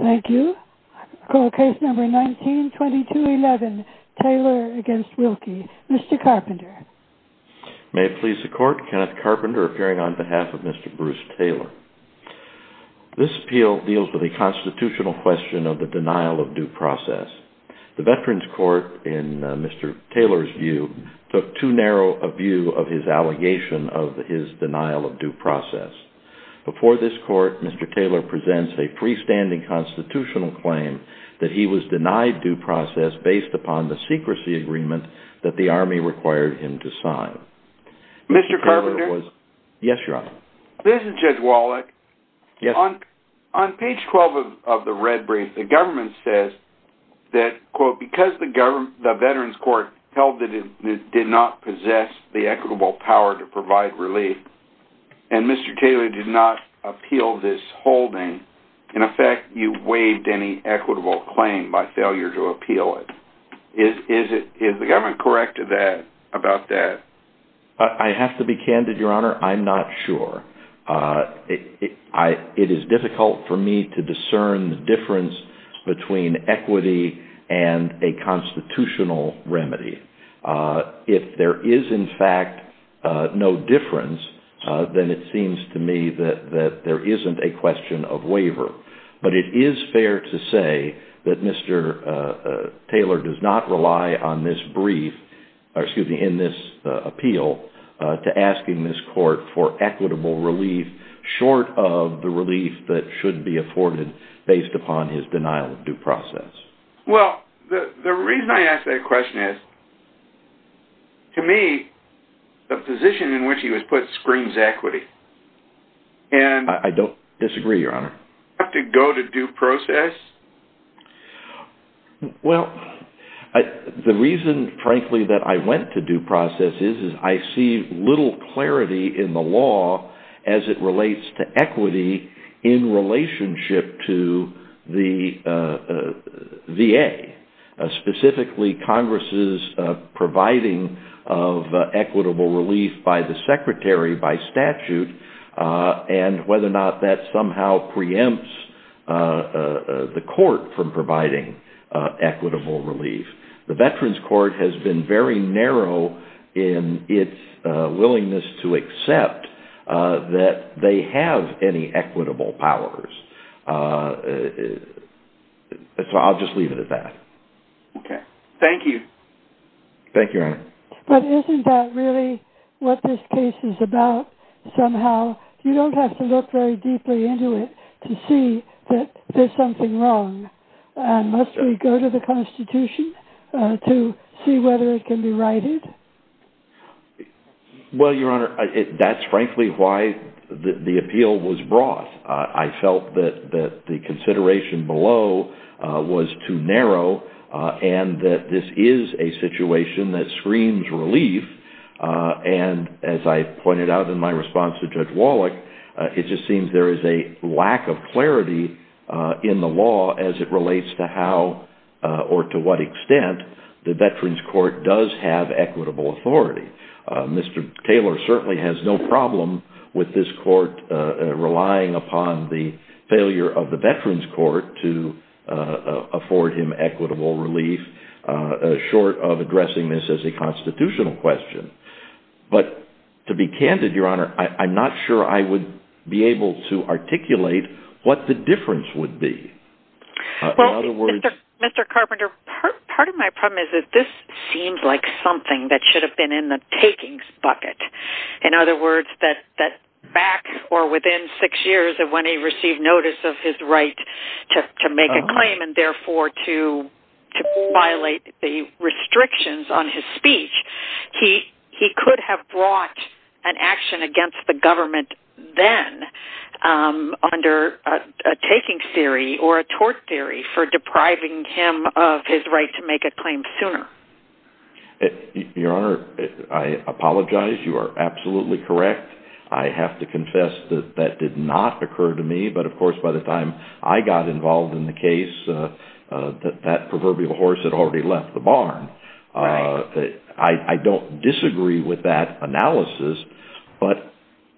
Thank you. I call case number 192211, Taylor v. Wilkie. Mr. Carpenter. May it please the Court, Kenneth Carpenter appearing on behalf of Mr. Bruce Taylor. This appeal deals with a constitutional question of the denial of due process. The Veterans Court, in Mr. Taylor's view, took too narrow a view of his allegation of his denial of due process. Before this Court, Mr. Taylor presents a freestanding constitutional claim that he was denied due process based upon the secrecy agreement that the Army required him to sign. Mr. Carpenter? Yes, Your Honor. This is Judge Wallach. Yes. On page 12 of the red brief, the government says that, quote, because the Veterans Court held that it did not possess the equitable power to provide relief, and Mr. Taylor did not appeal this holding, in effect, you waived any equitable claim by failure to appeal it. Is the government correct about that? I have to be candid, Your Honor. I'm not sure. It is difficult for me to discern the difference between equity and a constitutional remedy. If there is, in fact, no difference, then it seems to me that there isn't a question of waiver. But it is fair to say that Mr. Taylor does not rely on this brief, or excuse me, in this appeal, to asking this Court for equitable relief short of the relief that should be afforded based upon his denial of due process. Well, the reason I ask that question is, to me, the position in which he was put screams equity. I don't disagree, Your Honor. Do you have to go to due process? Well, the reason, frankly, that I went to due process is I see little clarity in the law as it relates to equity in relationship to the VA, specifically Congress's providing of equitable relief by the Secretary by statute, and whether or not that somehow preempts the Court from providing equitable relief. The Veterans Court has been very narrow in its willingness to accept that they have any equitable powers. So I'll just leave it at that. Okay. Thank you. Thank you, Your Honor. But isn't that really what this case is about, somehow? You don't have to look very deeply into it to see that there's something wrong. Must we go to the Constitution to see whether it can be righted? Well, Your Honor, that's frankly why the appeal was brought. I felt that the consideration below was too narrow and that this is a situation that screams relief. And as I pointed out in my response to Judge Wallach, it just seems there is a lack of clarity in the law as it relates to how or to what extent the Veterans Court does have equitable authority. Mr. Taylor certainly has no problem with this court relying upon the failure of the Veterans Court to afford him equitable relief, short of addressing this as a constitutional question. But to be candid, Your Honor, I'm not sure I would be able to articulate what the difference would be. Well, Mr. Carpenter, part of my problem is that this seems like something that should have been in the takings bucket. In other words, that back or within six years of when he received notice of his right to make a claim and therefore to violate the restrictions on his speech, he could have brought an action against the government then under a taking theory or a tort theory for depriving him of his right to make a claim sooner. Your Honor, I apologize. You are absolutely correct. I have to confess that that did not occur to me. But of course, by the time I got involved in the case, that proverbial horse had already left the barn. I don't disagree with that analysis. But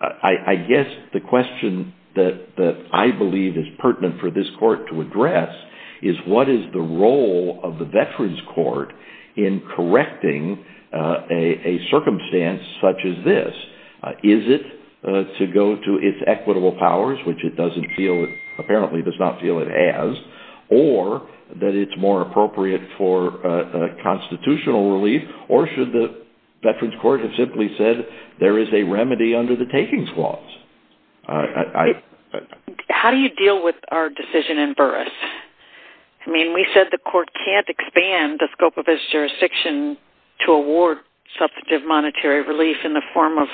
I guess the question that I believe is pertinent for this court to address is what is the role of the Veterans Court in correcting a circumstance such as this? Is it to go to its equitable powers, which it apparently does not feel it as, or that it's more appropriate for constitutional relief, or should the Veterans Court have simply said there is a remedy under the takings clause? How do you deal with our decision in Burris? I mean, we said the court can't expand the scope of its jurisdiction to award substantive monetary relief in the form of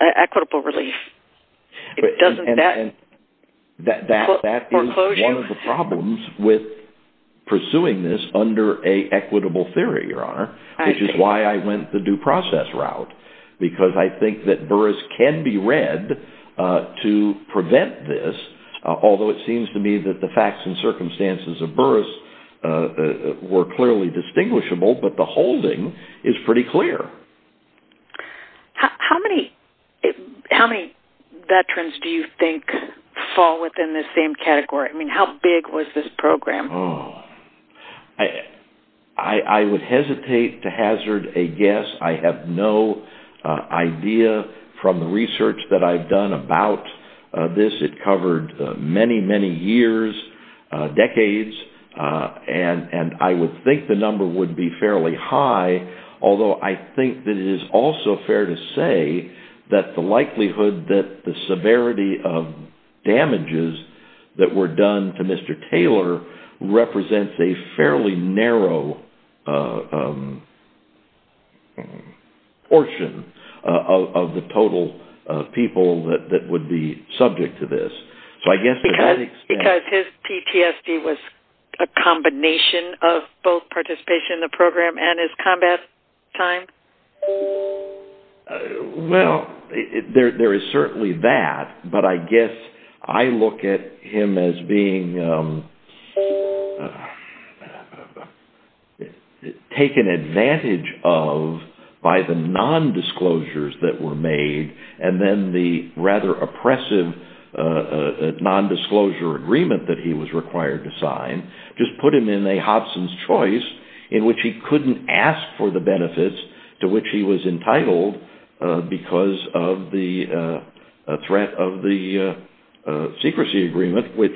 equitable relief. That is one of the problems with pursuing this under an equitable theory, Your Honor, which is why I went the due process route. Because I think that Burris can be read to prevent this, although it seems to me that the facts and circumstances of Burris were clearly distinguishable, but the holding is pretty clear. How many Veterans do you think fall within this same category? I mean, how big was this program? I would hesitate to hazard a guess. I have no idea from the research that I've done about this. It covered many, many years, decades, and I would think the number would be fairly high, although I think that it is also fair to say that the likelihood that the severity of damages that were done to Mr. Taylor represents a fairly narrow portion of the total people that would be subject to this. Because his PTSD was a combination of both participation in the program and his combat time? Well, there is certainly that, but I guess I look at him as being taken advantage of by the nondisclosures that were made and then the rather oppressive nondisclosure agreement that he was required to sign just put him in a Hobson's Choice in which he couldn't ask for the benefits to which he was entitled because of the threat of the secrecy agreement, which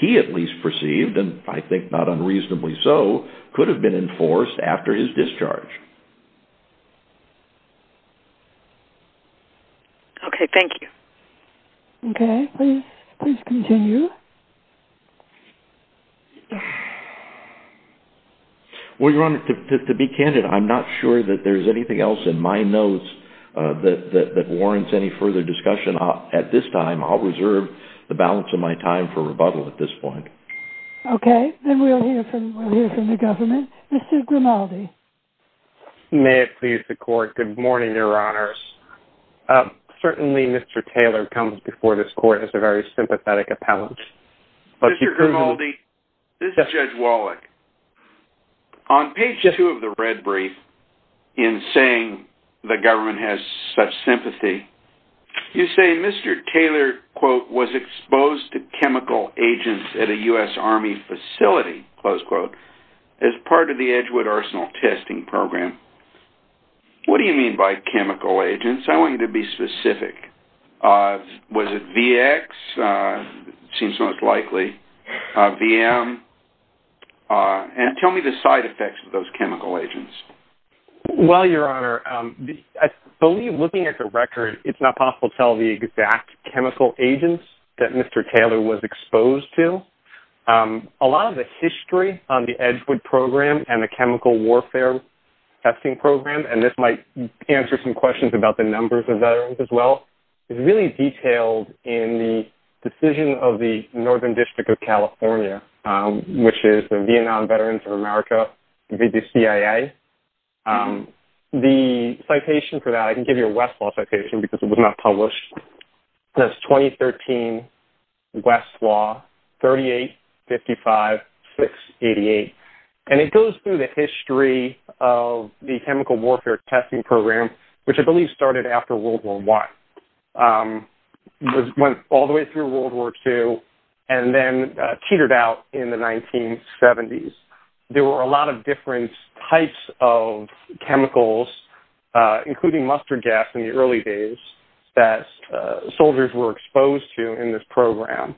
he at least perceived, and I think not unreasonably so, could have been enforced after his discharge. Okay, thank you. Okay, please continue. Well, Your Honor, to be candid, I'm not sure that there's anything else in my notes that warrants any further discussion. At this time, I'll reserve the balance of my time for rebuttal at this point. Okay, then we'll hear from the government. Mr. Grimaldi. May it please the Court, good morning, Your Honors. Certainly, Mr. Taylor comes before this Court as a very sympathetic appellant. Mr. Grimaldi, this is Judge Wallach. On page two of the red brief, in saying the government has such sympathy, you say Mr. Taylor, quote, was exposed to chemical agents at a U.S. Army facility, close quote, as part of the Edgewood Arsenal testing program. What do you mean by chemical agents? I want you to be specific. Was it VX? Seems most likely. VM? And tell me the side effects of those chemical agents. Well, Your Honor, I believe looking at the record, it's not possible to tell the exact chemical agents that Mr. Taylor was exposed to. A lot of the history on the Edgewood program and the chemical warfare testing program, and this might answer some questions about the numbers of veterans as well, is really detailed in the decision of the Northern District of California, which is the Vietnam Veterans of America, the CIA. The citation for that, I can give you a Westlaw citation because it was not published. That's 2013 Westlaw 3855688. And it goes through the history of the chemical warfare testing program, which I believe started after World War I, went all the way through World War II, and then teetered out in the 1970s. There were a lot of different types of chemicals, including mustard gas in the early days, that soldiers were exposed to in this program.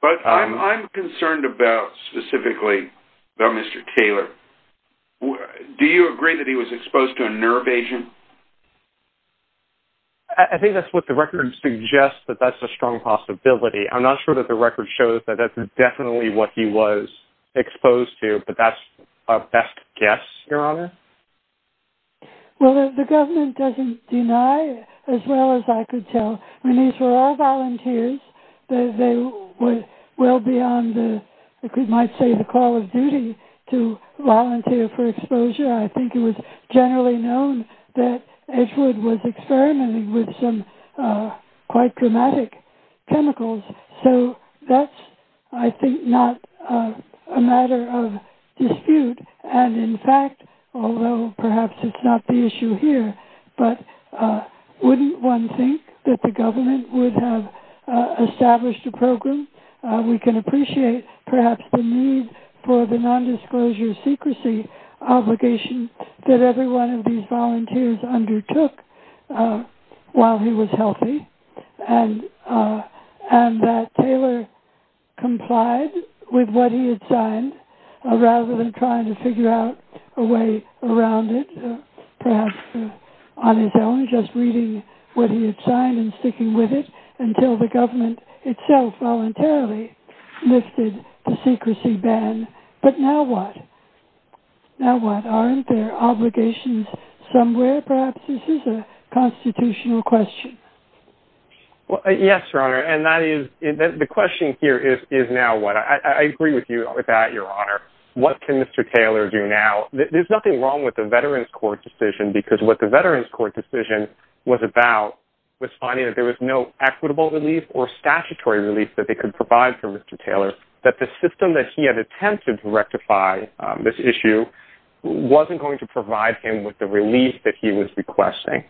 But I'm concerned about, specifically, about Mr. Taylor. Do you agree that he was exposed to a nerve agent? I think that's what the record suggests, that that's a strong possibility. I'm not sure that the record shows that that's definitely what he was exposed to, but that's our best guess, Your Honor. Well, the government doesn't deny, as well as I could tell. I mean, these were all volunteers. They were well beyond, you might say, the call of duty to volunteer for exposure. I think it was generally known that Edgewood was experimenting with some quite dramatic chemicals. So that's, I think, not a matter of dispute. And, in fact, although perhaps it's not the issue here, but wouldn't one think that the government would have established a program? We can appreciate, perhaps, the need for the nondisclosure secrecy obligation that every one of these volunteers undertook while he was healthy, and that Taylor complied with what he had signed, rather than trying to figure out a way around it, perhaps on his own, just reading what he had signed and sticking with it, until the government itself voluntarily lifted the secrecy ban. But now what? Now what? Aren't there obligations somewhere? Perhaps this is a constitutional question. Yes, Your Honor, and the question here is, now what? I agree with that, Your Honor. What can Mr. Taylor do now? There's nothing wrong with the Veterans Court decision, because what the Veterans Court decision was about was finding that there was no equitable relief or statutory relief that they could provide for Mr. Taylor, that the system that he had attempted to rectify this issue wasn't going to provide him with the relief that he was requesting.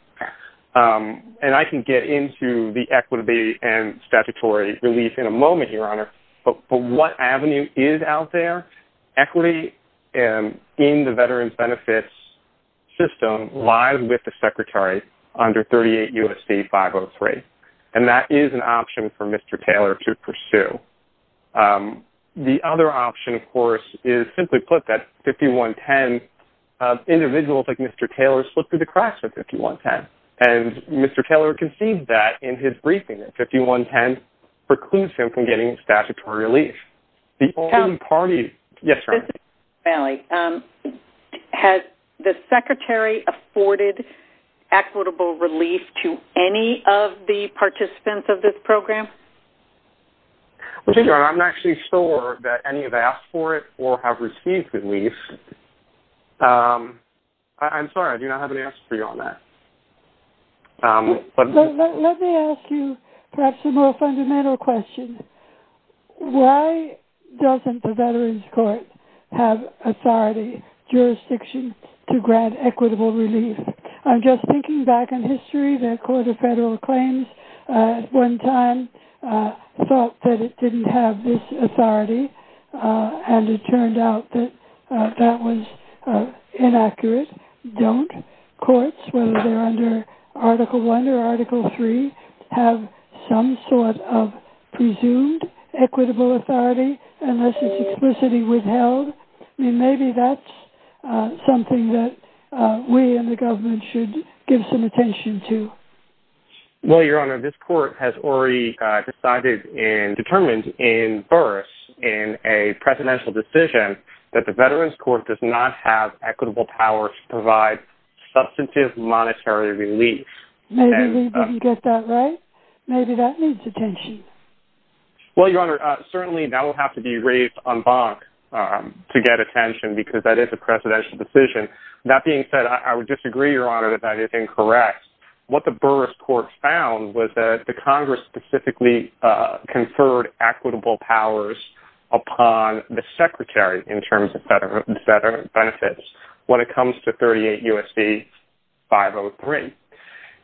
And I can get into the equity and statutory relief in a moment, Your Honor, but what avenue is out there? Equity in the Veterans Benefits System lies with the Secretary under 38 U.S.C. 503, and that is an option for Mr. Taylor to pursue. The other option, of course, is, simply put, that 5110, individuals like Mr. Taylor slipped through the cracks with 5110, and Mr. Taylor conceived that in his briefing, that 5110 precludes him from getting statutory relief. Has the Secretary afforded equitable relief to any of the participants of this program? I'm not actually sure that any have asked for it or have received relief. I'm sorry, I do not have an answer for you on that. Let me ask you perhaps a more fundamental question. Why doesn't the Veterans Court have authority, jurisdiction, to grant equitable relief? I'm just thinking back in history. The Court of Federal Claims at one time thought that it didn't have this authority, and it turned out that that was inaccurate. Don't courts, whether they're under Article I or Article III, have some sort of presumed equitable authority unless it's explicitly withheld? I mean, maybe that's something that we in the government should give some attention to. Well, Your Honor, this court has already decided and determined in bursts in a presidential decision that the Veterans Court does not have equitable power to provide substantive monetary relief. Maybe we didn't get that right. Maybe that needs attention. Well, Your Honor, certainly that will have to be raised en banc to get attention because that is a presidential decision. That being said, I would disagree, Your Honor, that that is incorrect. What the Burris Court found was that the Congress specifically conferred equitable powers upon the Secretary in terms of federal benefits when it comes to 38 U.S.C. 503.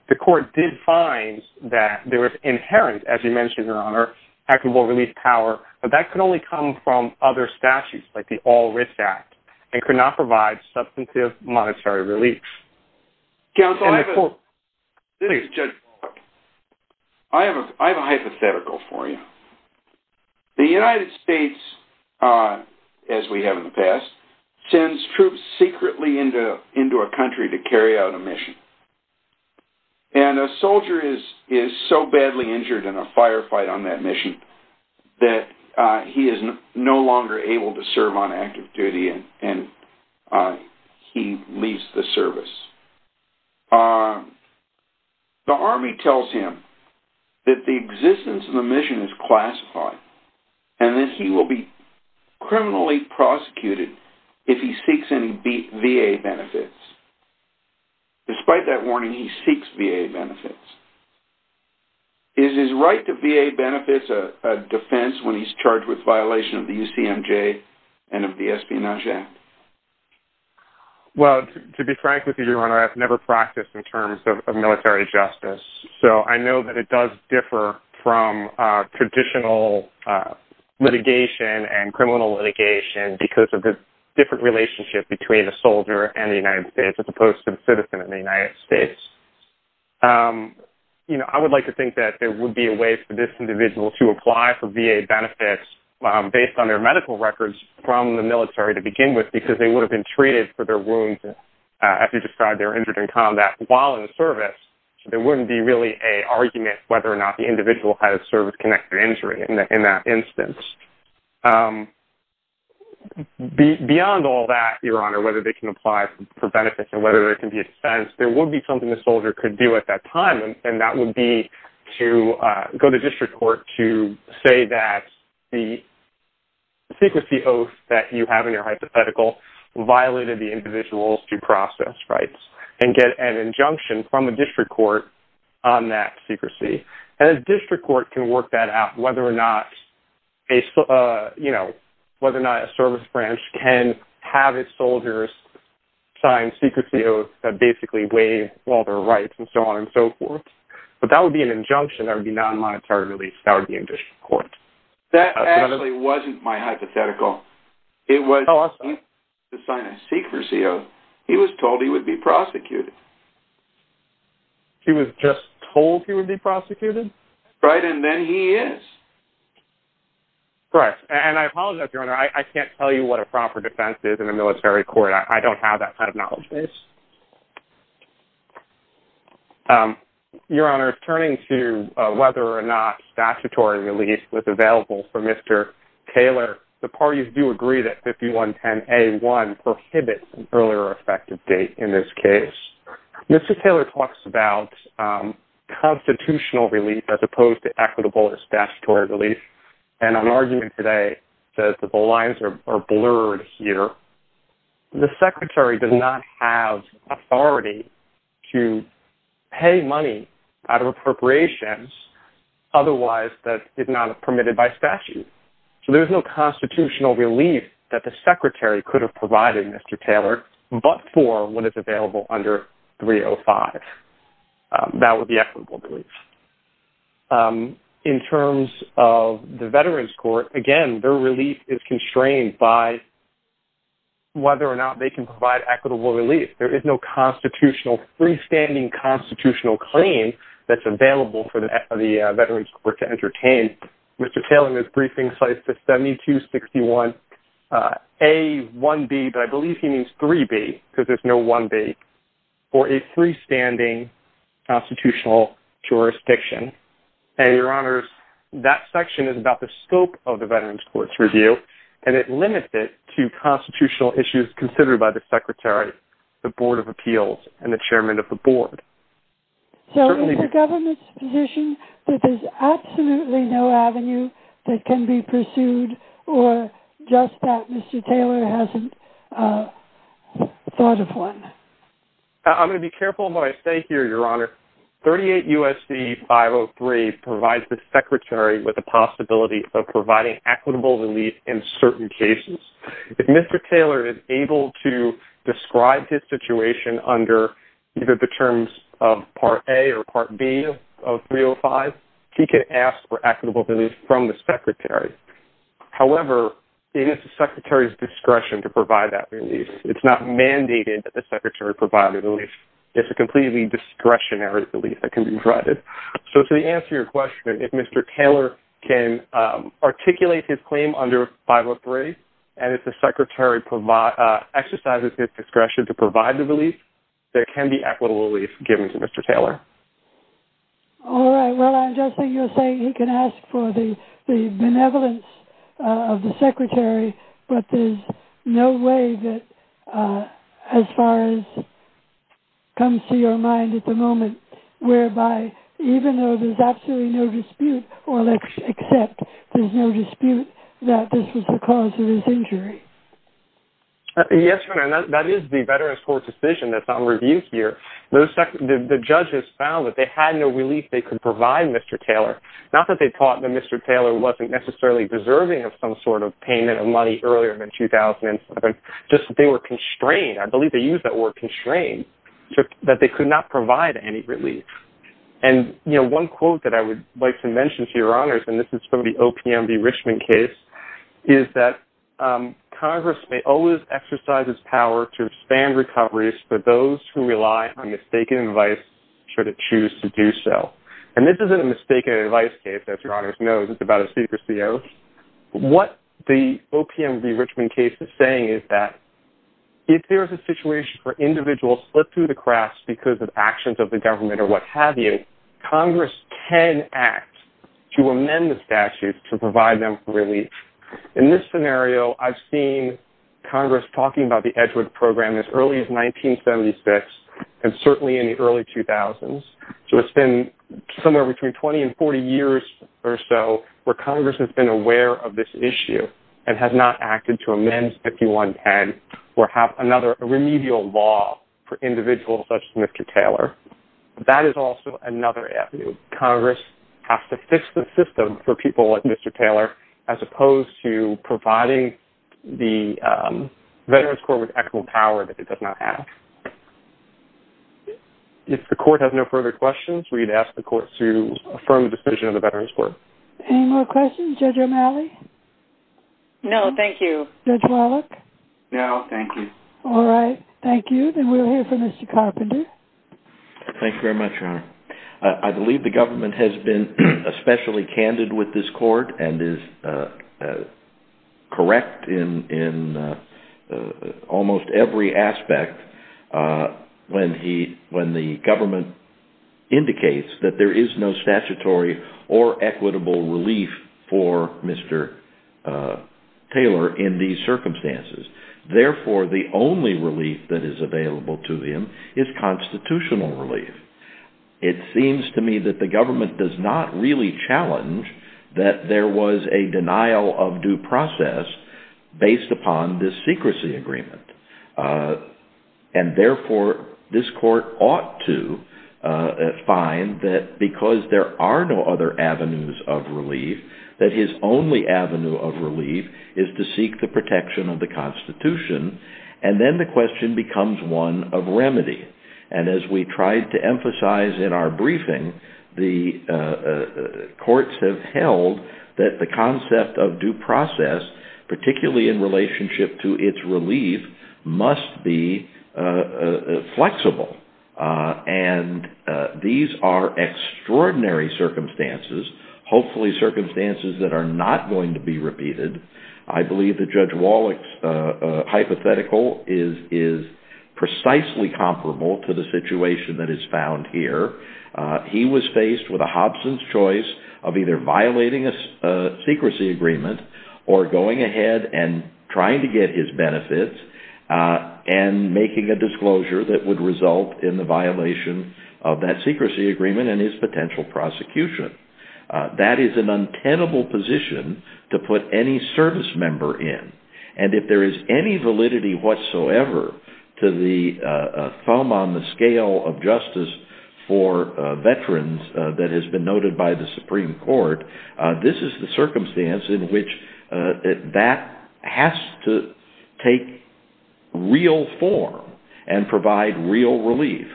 The court did find that there was inherent, as you mentioned, Your Honor, equitable relief power, but that could only come from other statutes like the All-Risk Act and could not provide substantive monetary relief. Counsel, I have a hypothetical for you. The United States, as we have in the past, sends troops secretly into a country to carry out a mission, and a soldier is so badly injured in a firefight on that mission that he is no longer able to serve on active duty and he leaves the service. The Army tells him that the existence of the mission is classified and that he will be criminally prosecuted if he seeks any VA benefits. Despite that warning, he seeks VA benefits. Is his right to VA benefits a defense when he's charged with violation of the UCMJ and of the Espionage Act? Well, to be frank with you, Your Honor, I've never practiced in terms of military justice, so I know that it does differ from traditional litigation and criminal litigation because of the different relationship between a soldier and the United States as opposed to the citizen of the United States. You know, I would like to think that there would be a way for this individual to apply for VA benefits based on their medical records from the military to begin with because they would have been treated for their wounds, as you described, they were injured in combat while in the service. There wouldn't be really an argument whether or not the individual has service-connected injury in that instance. Beyond all that, Your Honor, whether they can apply for benefits and whether there can be a defense, there would be something the soldier could do at that time, and that would be to go to district court to say that the secrecy oath that you have in your hypothetical violated the individual's due process rights and get an injunction from a district court on that secrecy. And a district court can work that out whether or not a service branch can have its soldiers sign secrecy oaths that basically waive all their rights and so on and so forth. But that would be an injunction that would be non-monetary release. That would be in district court. That actually wasn't my hypothetical. It was to sign a secrecy oath. He was told he would be prosecuted. He was just told he would be prosecuted? Right, and then he is. Correct. And I apologize, Your Honor. I can't tell you what a proper defense is in a military court. I don't have that kind of knowledge base. Your Honor, turning to whether or not statutory release was available for Mr. Taylor, the parties do agree that 5110A1 prohibits an earlier effective date in this case. Mr. Taylor talks about constitutional relief as opposed to equitable or statutory relief, and an argument today says that the lines are blurred here. The secretary does not have authority to pay money out of appropriations otherwise that did not have permitted by statute. So there's no constitutional relief that the secretary could have provided Mr. Taylor but for what is available under 305. That would be equitable relief. In terms of the veterans court, again, their relief is constrained by whether or not they can provide equitable relief. There is no constitutional, freestanding constitutional claim that's available for the veterans court to entertain. Mr. Taylor in his briefing cites the 7261A1B, but I believe he means 3B because there's no 1B, for a freestanding constitutional jurisdiction. And, Your Honors, that section is about the scope of the veterans court's review and it limits it to constitutional issues considered by the secretary, the board of appeals, and the chairman of the board. So is the government's position that there's absolutely no avenue that can be pursued or just that Mr. Taylor hasn't thought of one? I'm going to be careful what I say here, Your Honor. 38 U.S.C. 503 provides the secretary with the possibility of providing equitable relief in certain cases. If Mr. Taylor is able to describe his situation under either the terms of Part A or Part B of 305, he can ask for equitable relief from the secretary. However, it is the secretary's discretion to provide that relief. It's not mandated that the secretary provide relief. It's a completely discretionary relief that can be provided. So to answer your question, if Mr. Taylor can articulate his claim under 503 and if the secretary exercises his discretion to provide the relief, there can be equitable relief given to Mr. Taylor. All right. Well, I'm guessing you're saying he can ask for the benevolence of the secretary, but there's no way that as far as comes to your mind at the moment, whereby even though there's absolutely no dispute or except there's no dispute that this was the cause of his injury. Yes, Your Honor. That is the Veterans Court decision that's on review here. The judges found that they had no relief they could provide Mr. Taylor, not that they thought that Mr. Taylor wasn't necessarily deserving of some sort of payment of money earlier than 2007, just that they were constrained. I believe they used that word constrained, that they could not provide any relief. And, you know, one quote that I would like to mention, Your Honors, and this is from the OPM v. Richmond case, is that Congress may always exercise its power to expand recoveries for those who rely on mistaken advice should it choose to do so. And this isn't a mistaken advice case, as Your Honors knows. It's about a secret CO. What the OPM v. Richmond case is saying is that if there is a situation where individuals slip through the cracks because of actions of the government Congress can act to amend the statute to provide them relief. In this scenario, I've seen Congress talking about the Edgewood Program as early as 1976 and certainly in the early 2000s. So it's been somewhere between 20 and 40 years or so where Congress has been aware of this issue and has not acted to amend 5110 or have another remedial law for individuals such as Mr. Taylor. That is also another avenue. Congress has to fix the system for people like Mr. Taylor as opposed to providing the Veterans Court with equitable power that it does not have. If the Court has no further questions, we'd ask the Court to affirm the decision of the Veterans Court. Any more questions, Judge O'Malley? No, thank you. Judge Wallach? No, thank you. All right, thank you. Then we'll hear from Mr. Carpenter. Thank you very much, Your Honor. I believe the government has been especially candid with this Court and is correct in almost every aspect when the government indicates that there is no statutory or equitable relief for Mr. Taylor in these circumstances. Therefore, the only relief that is available to him is constitutional relief. It seems to me that the government does not really challenge that there was a denial of due process based upon this secrecy agreement. And therefore, this Court ought to find that because there are no other avenues of relief, that his only avenue of relief is to seek the protection of the Constitution. And then the question becomes one of remedy. And as we tried to emphasize in our briefing, the courts have held that the concept of due process, particularly in relationship to its relief, must be flexible. And these are extraordinary circumstances, hopefully circumstances that are not going to be repeated. I believe that Judge Wallach's hypothetical is precisely comparable to the situation that is found here. He was faced with a Hobson's choice of either violating a secrecy agreement or going ahead and trying to get his benefits and making a disclosure that would result in the violation of that secrecy agreement and his potential prosecution. That is an untenable position to put any service member in. And if there is any validity whatsoever to the thumb on the scale of justice for veterans that has been noted by the Supreme Court, this is the circumstance in which that has to take real form and provide real relief.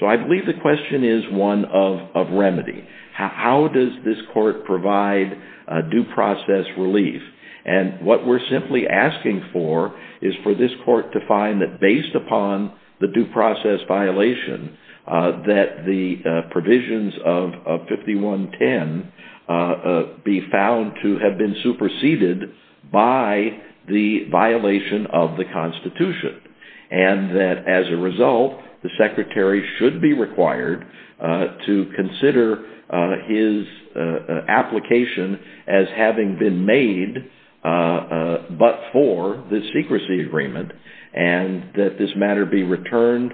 So I believe the question is one of remedy. How does this Court provide due process relief? And what we're simply asking for is for this Court to find that based upon the due process violation, that the provisions of 5110 be found to have been superseded by the violation of the Constitution. And that as a result, the Secretary should be required to consider his application as having been made but for the secrecy agreement and that this matter be returned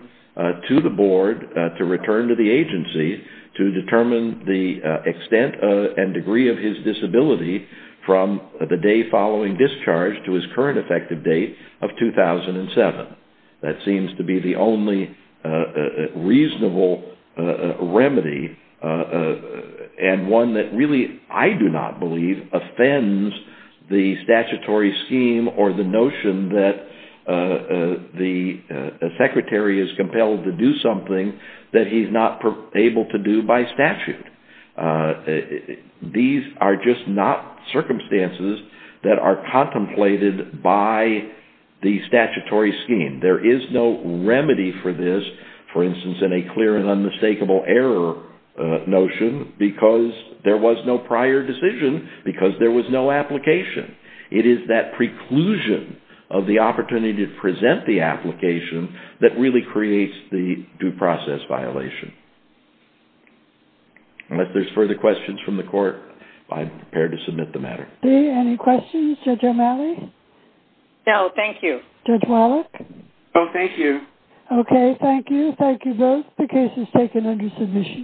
to the Board, to return to the agency to determine the extent and degree of his disability from the day following discharge to his current effective date of 2007. That seems to be the only reasonable remedy and one that really, I do not believe, offends the statutory scheme or the notion that the Secretary is compelled to do something that he's not able to do by statute. These are just not circumstances that are contemplated by the statutory scheme. There is no remedy for this, for instance, in a clear and unmistakable error notion because there was no prior decision because there was no application. It is that preclusion of the opportunity to present the application that really creates the due process violation. Unless there's further questions from the Court, I'm prepared to submit the matter. Any questions? Judge O'Malley? No, thank you. Judge Wallach? No, thank you. Okay, thank you. Thank you both. The case is taken under submission.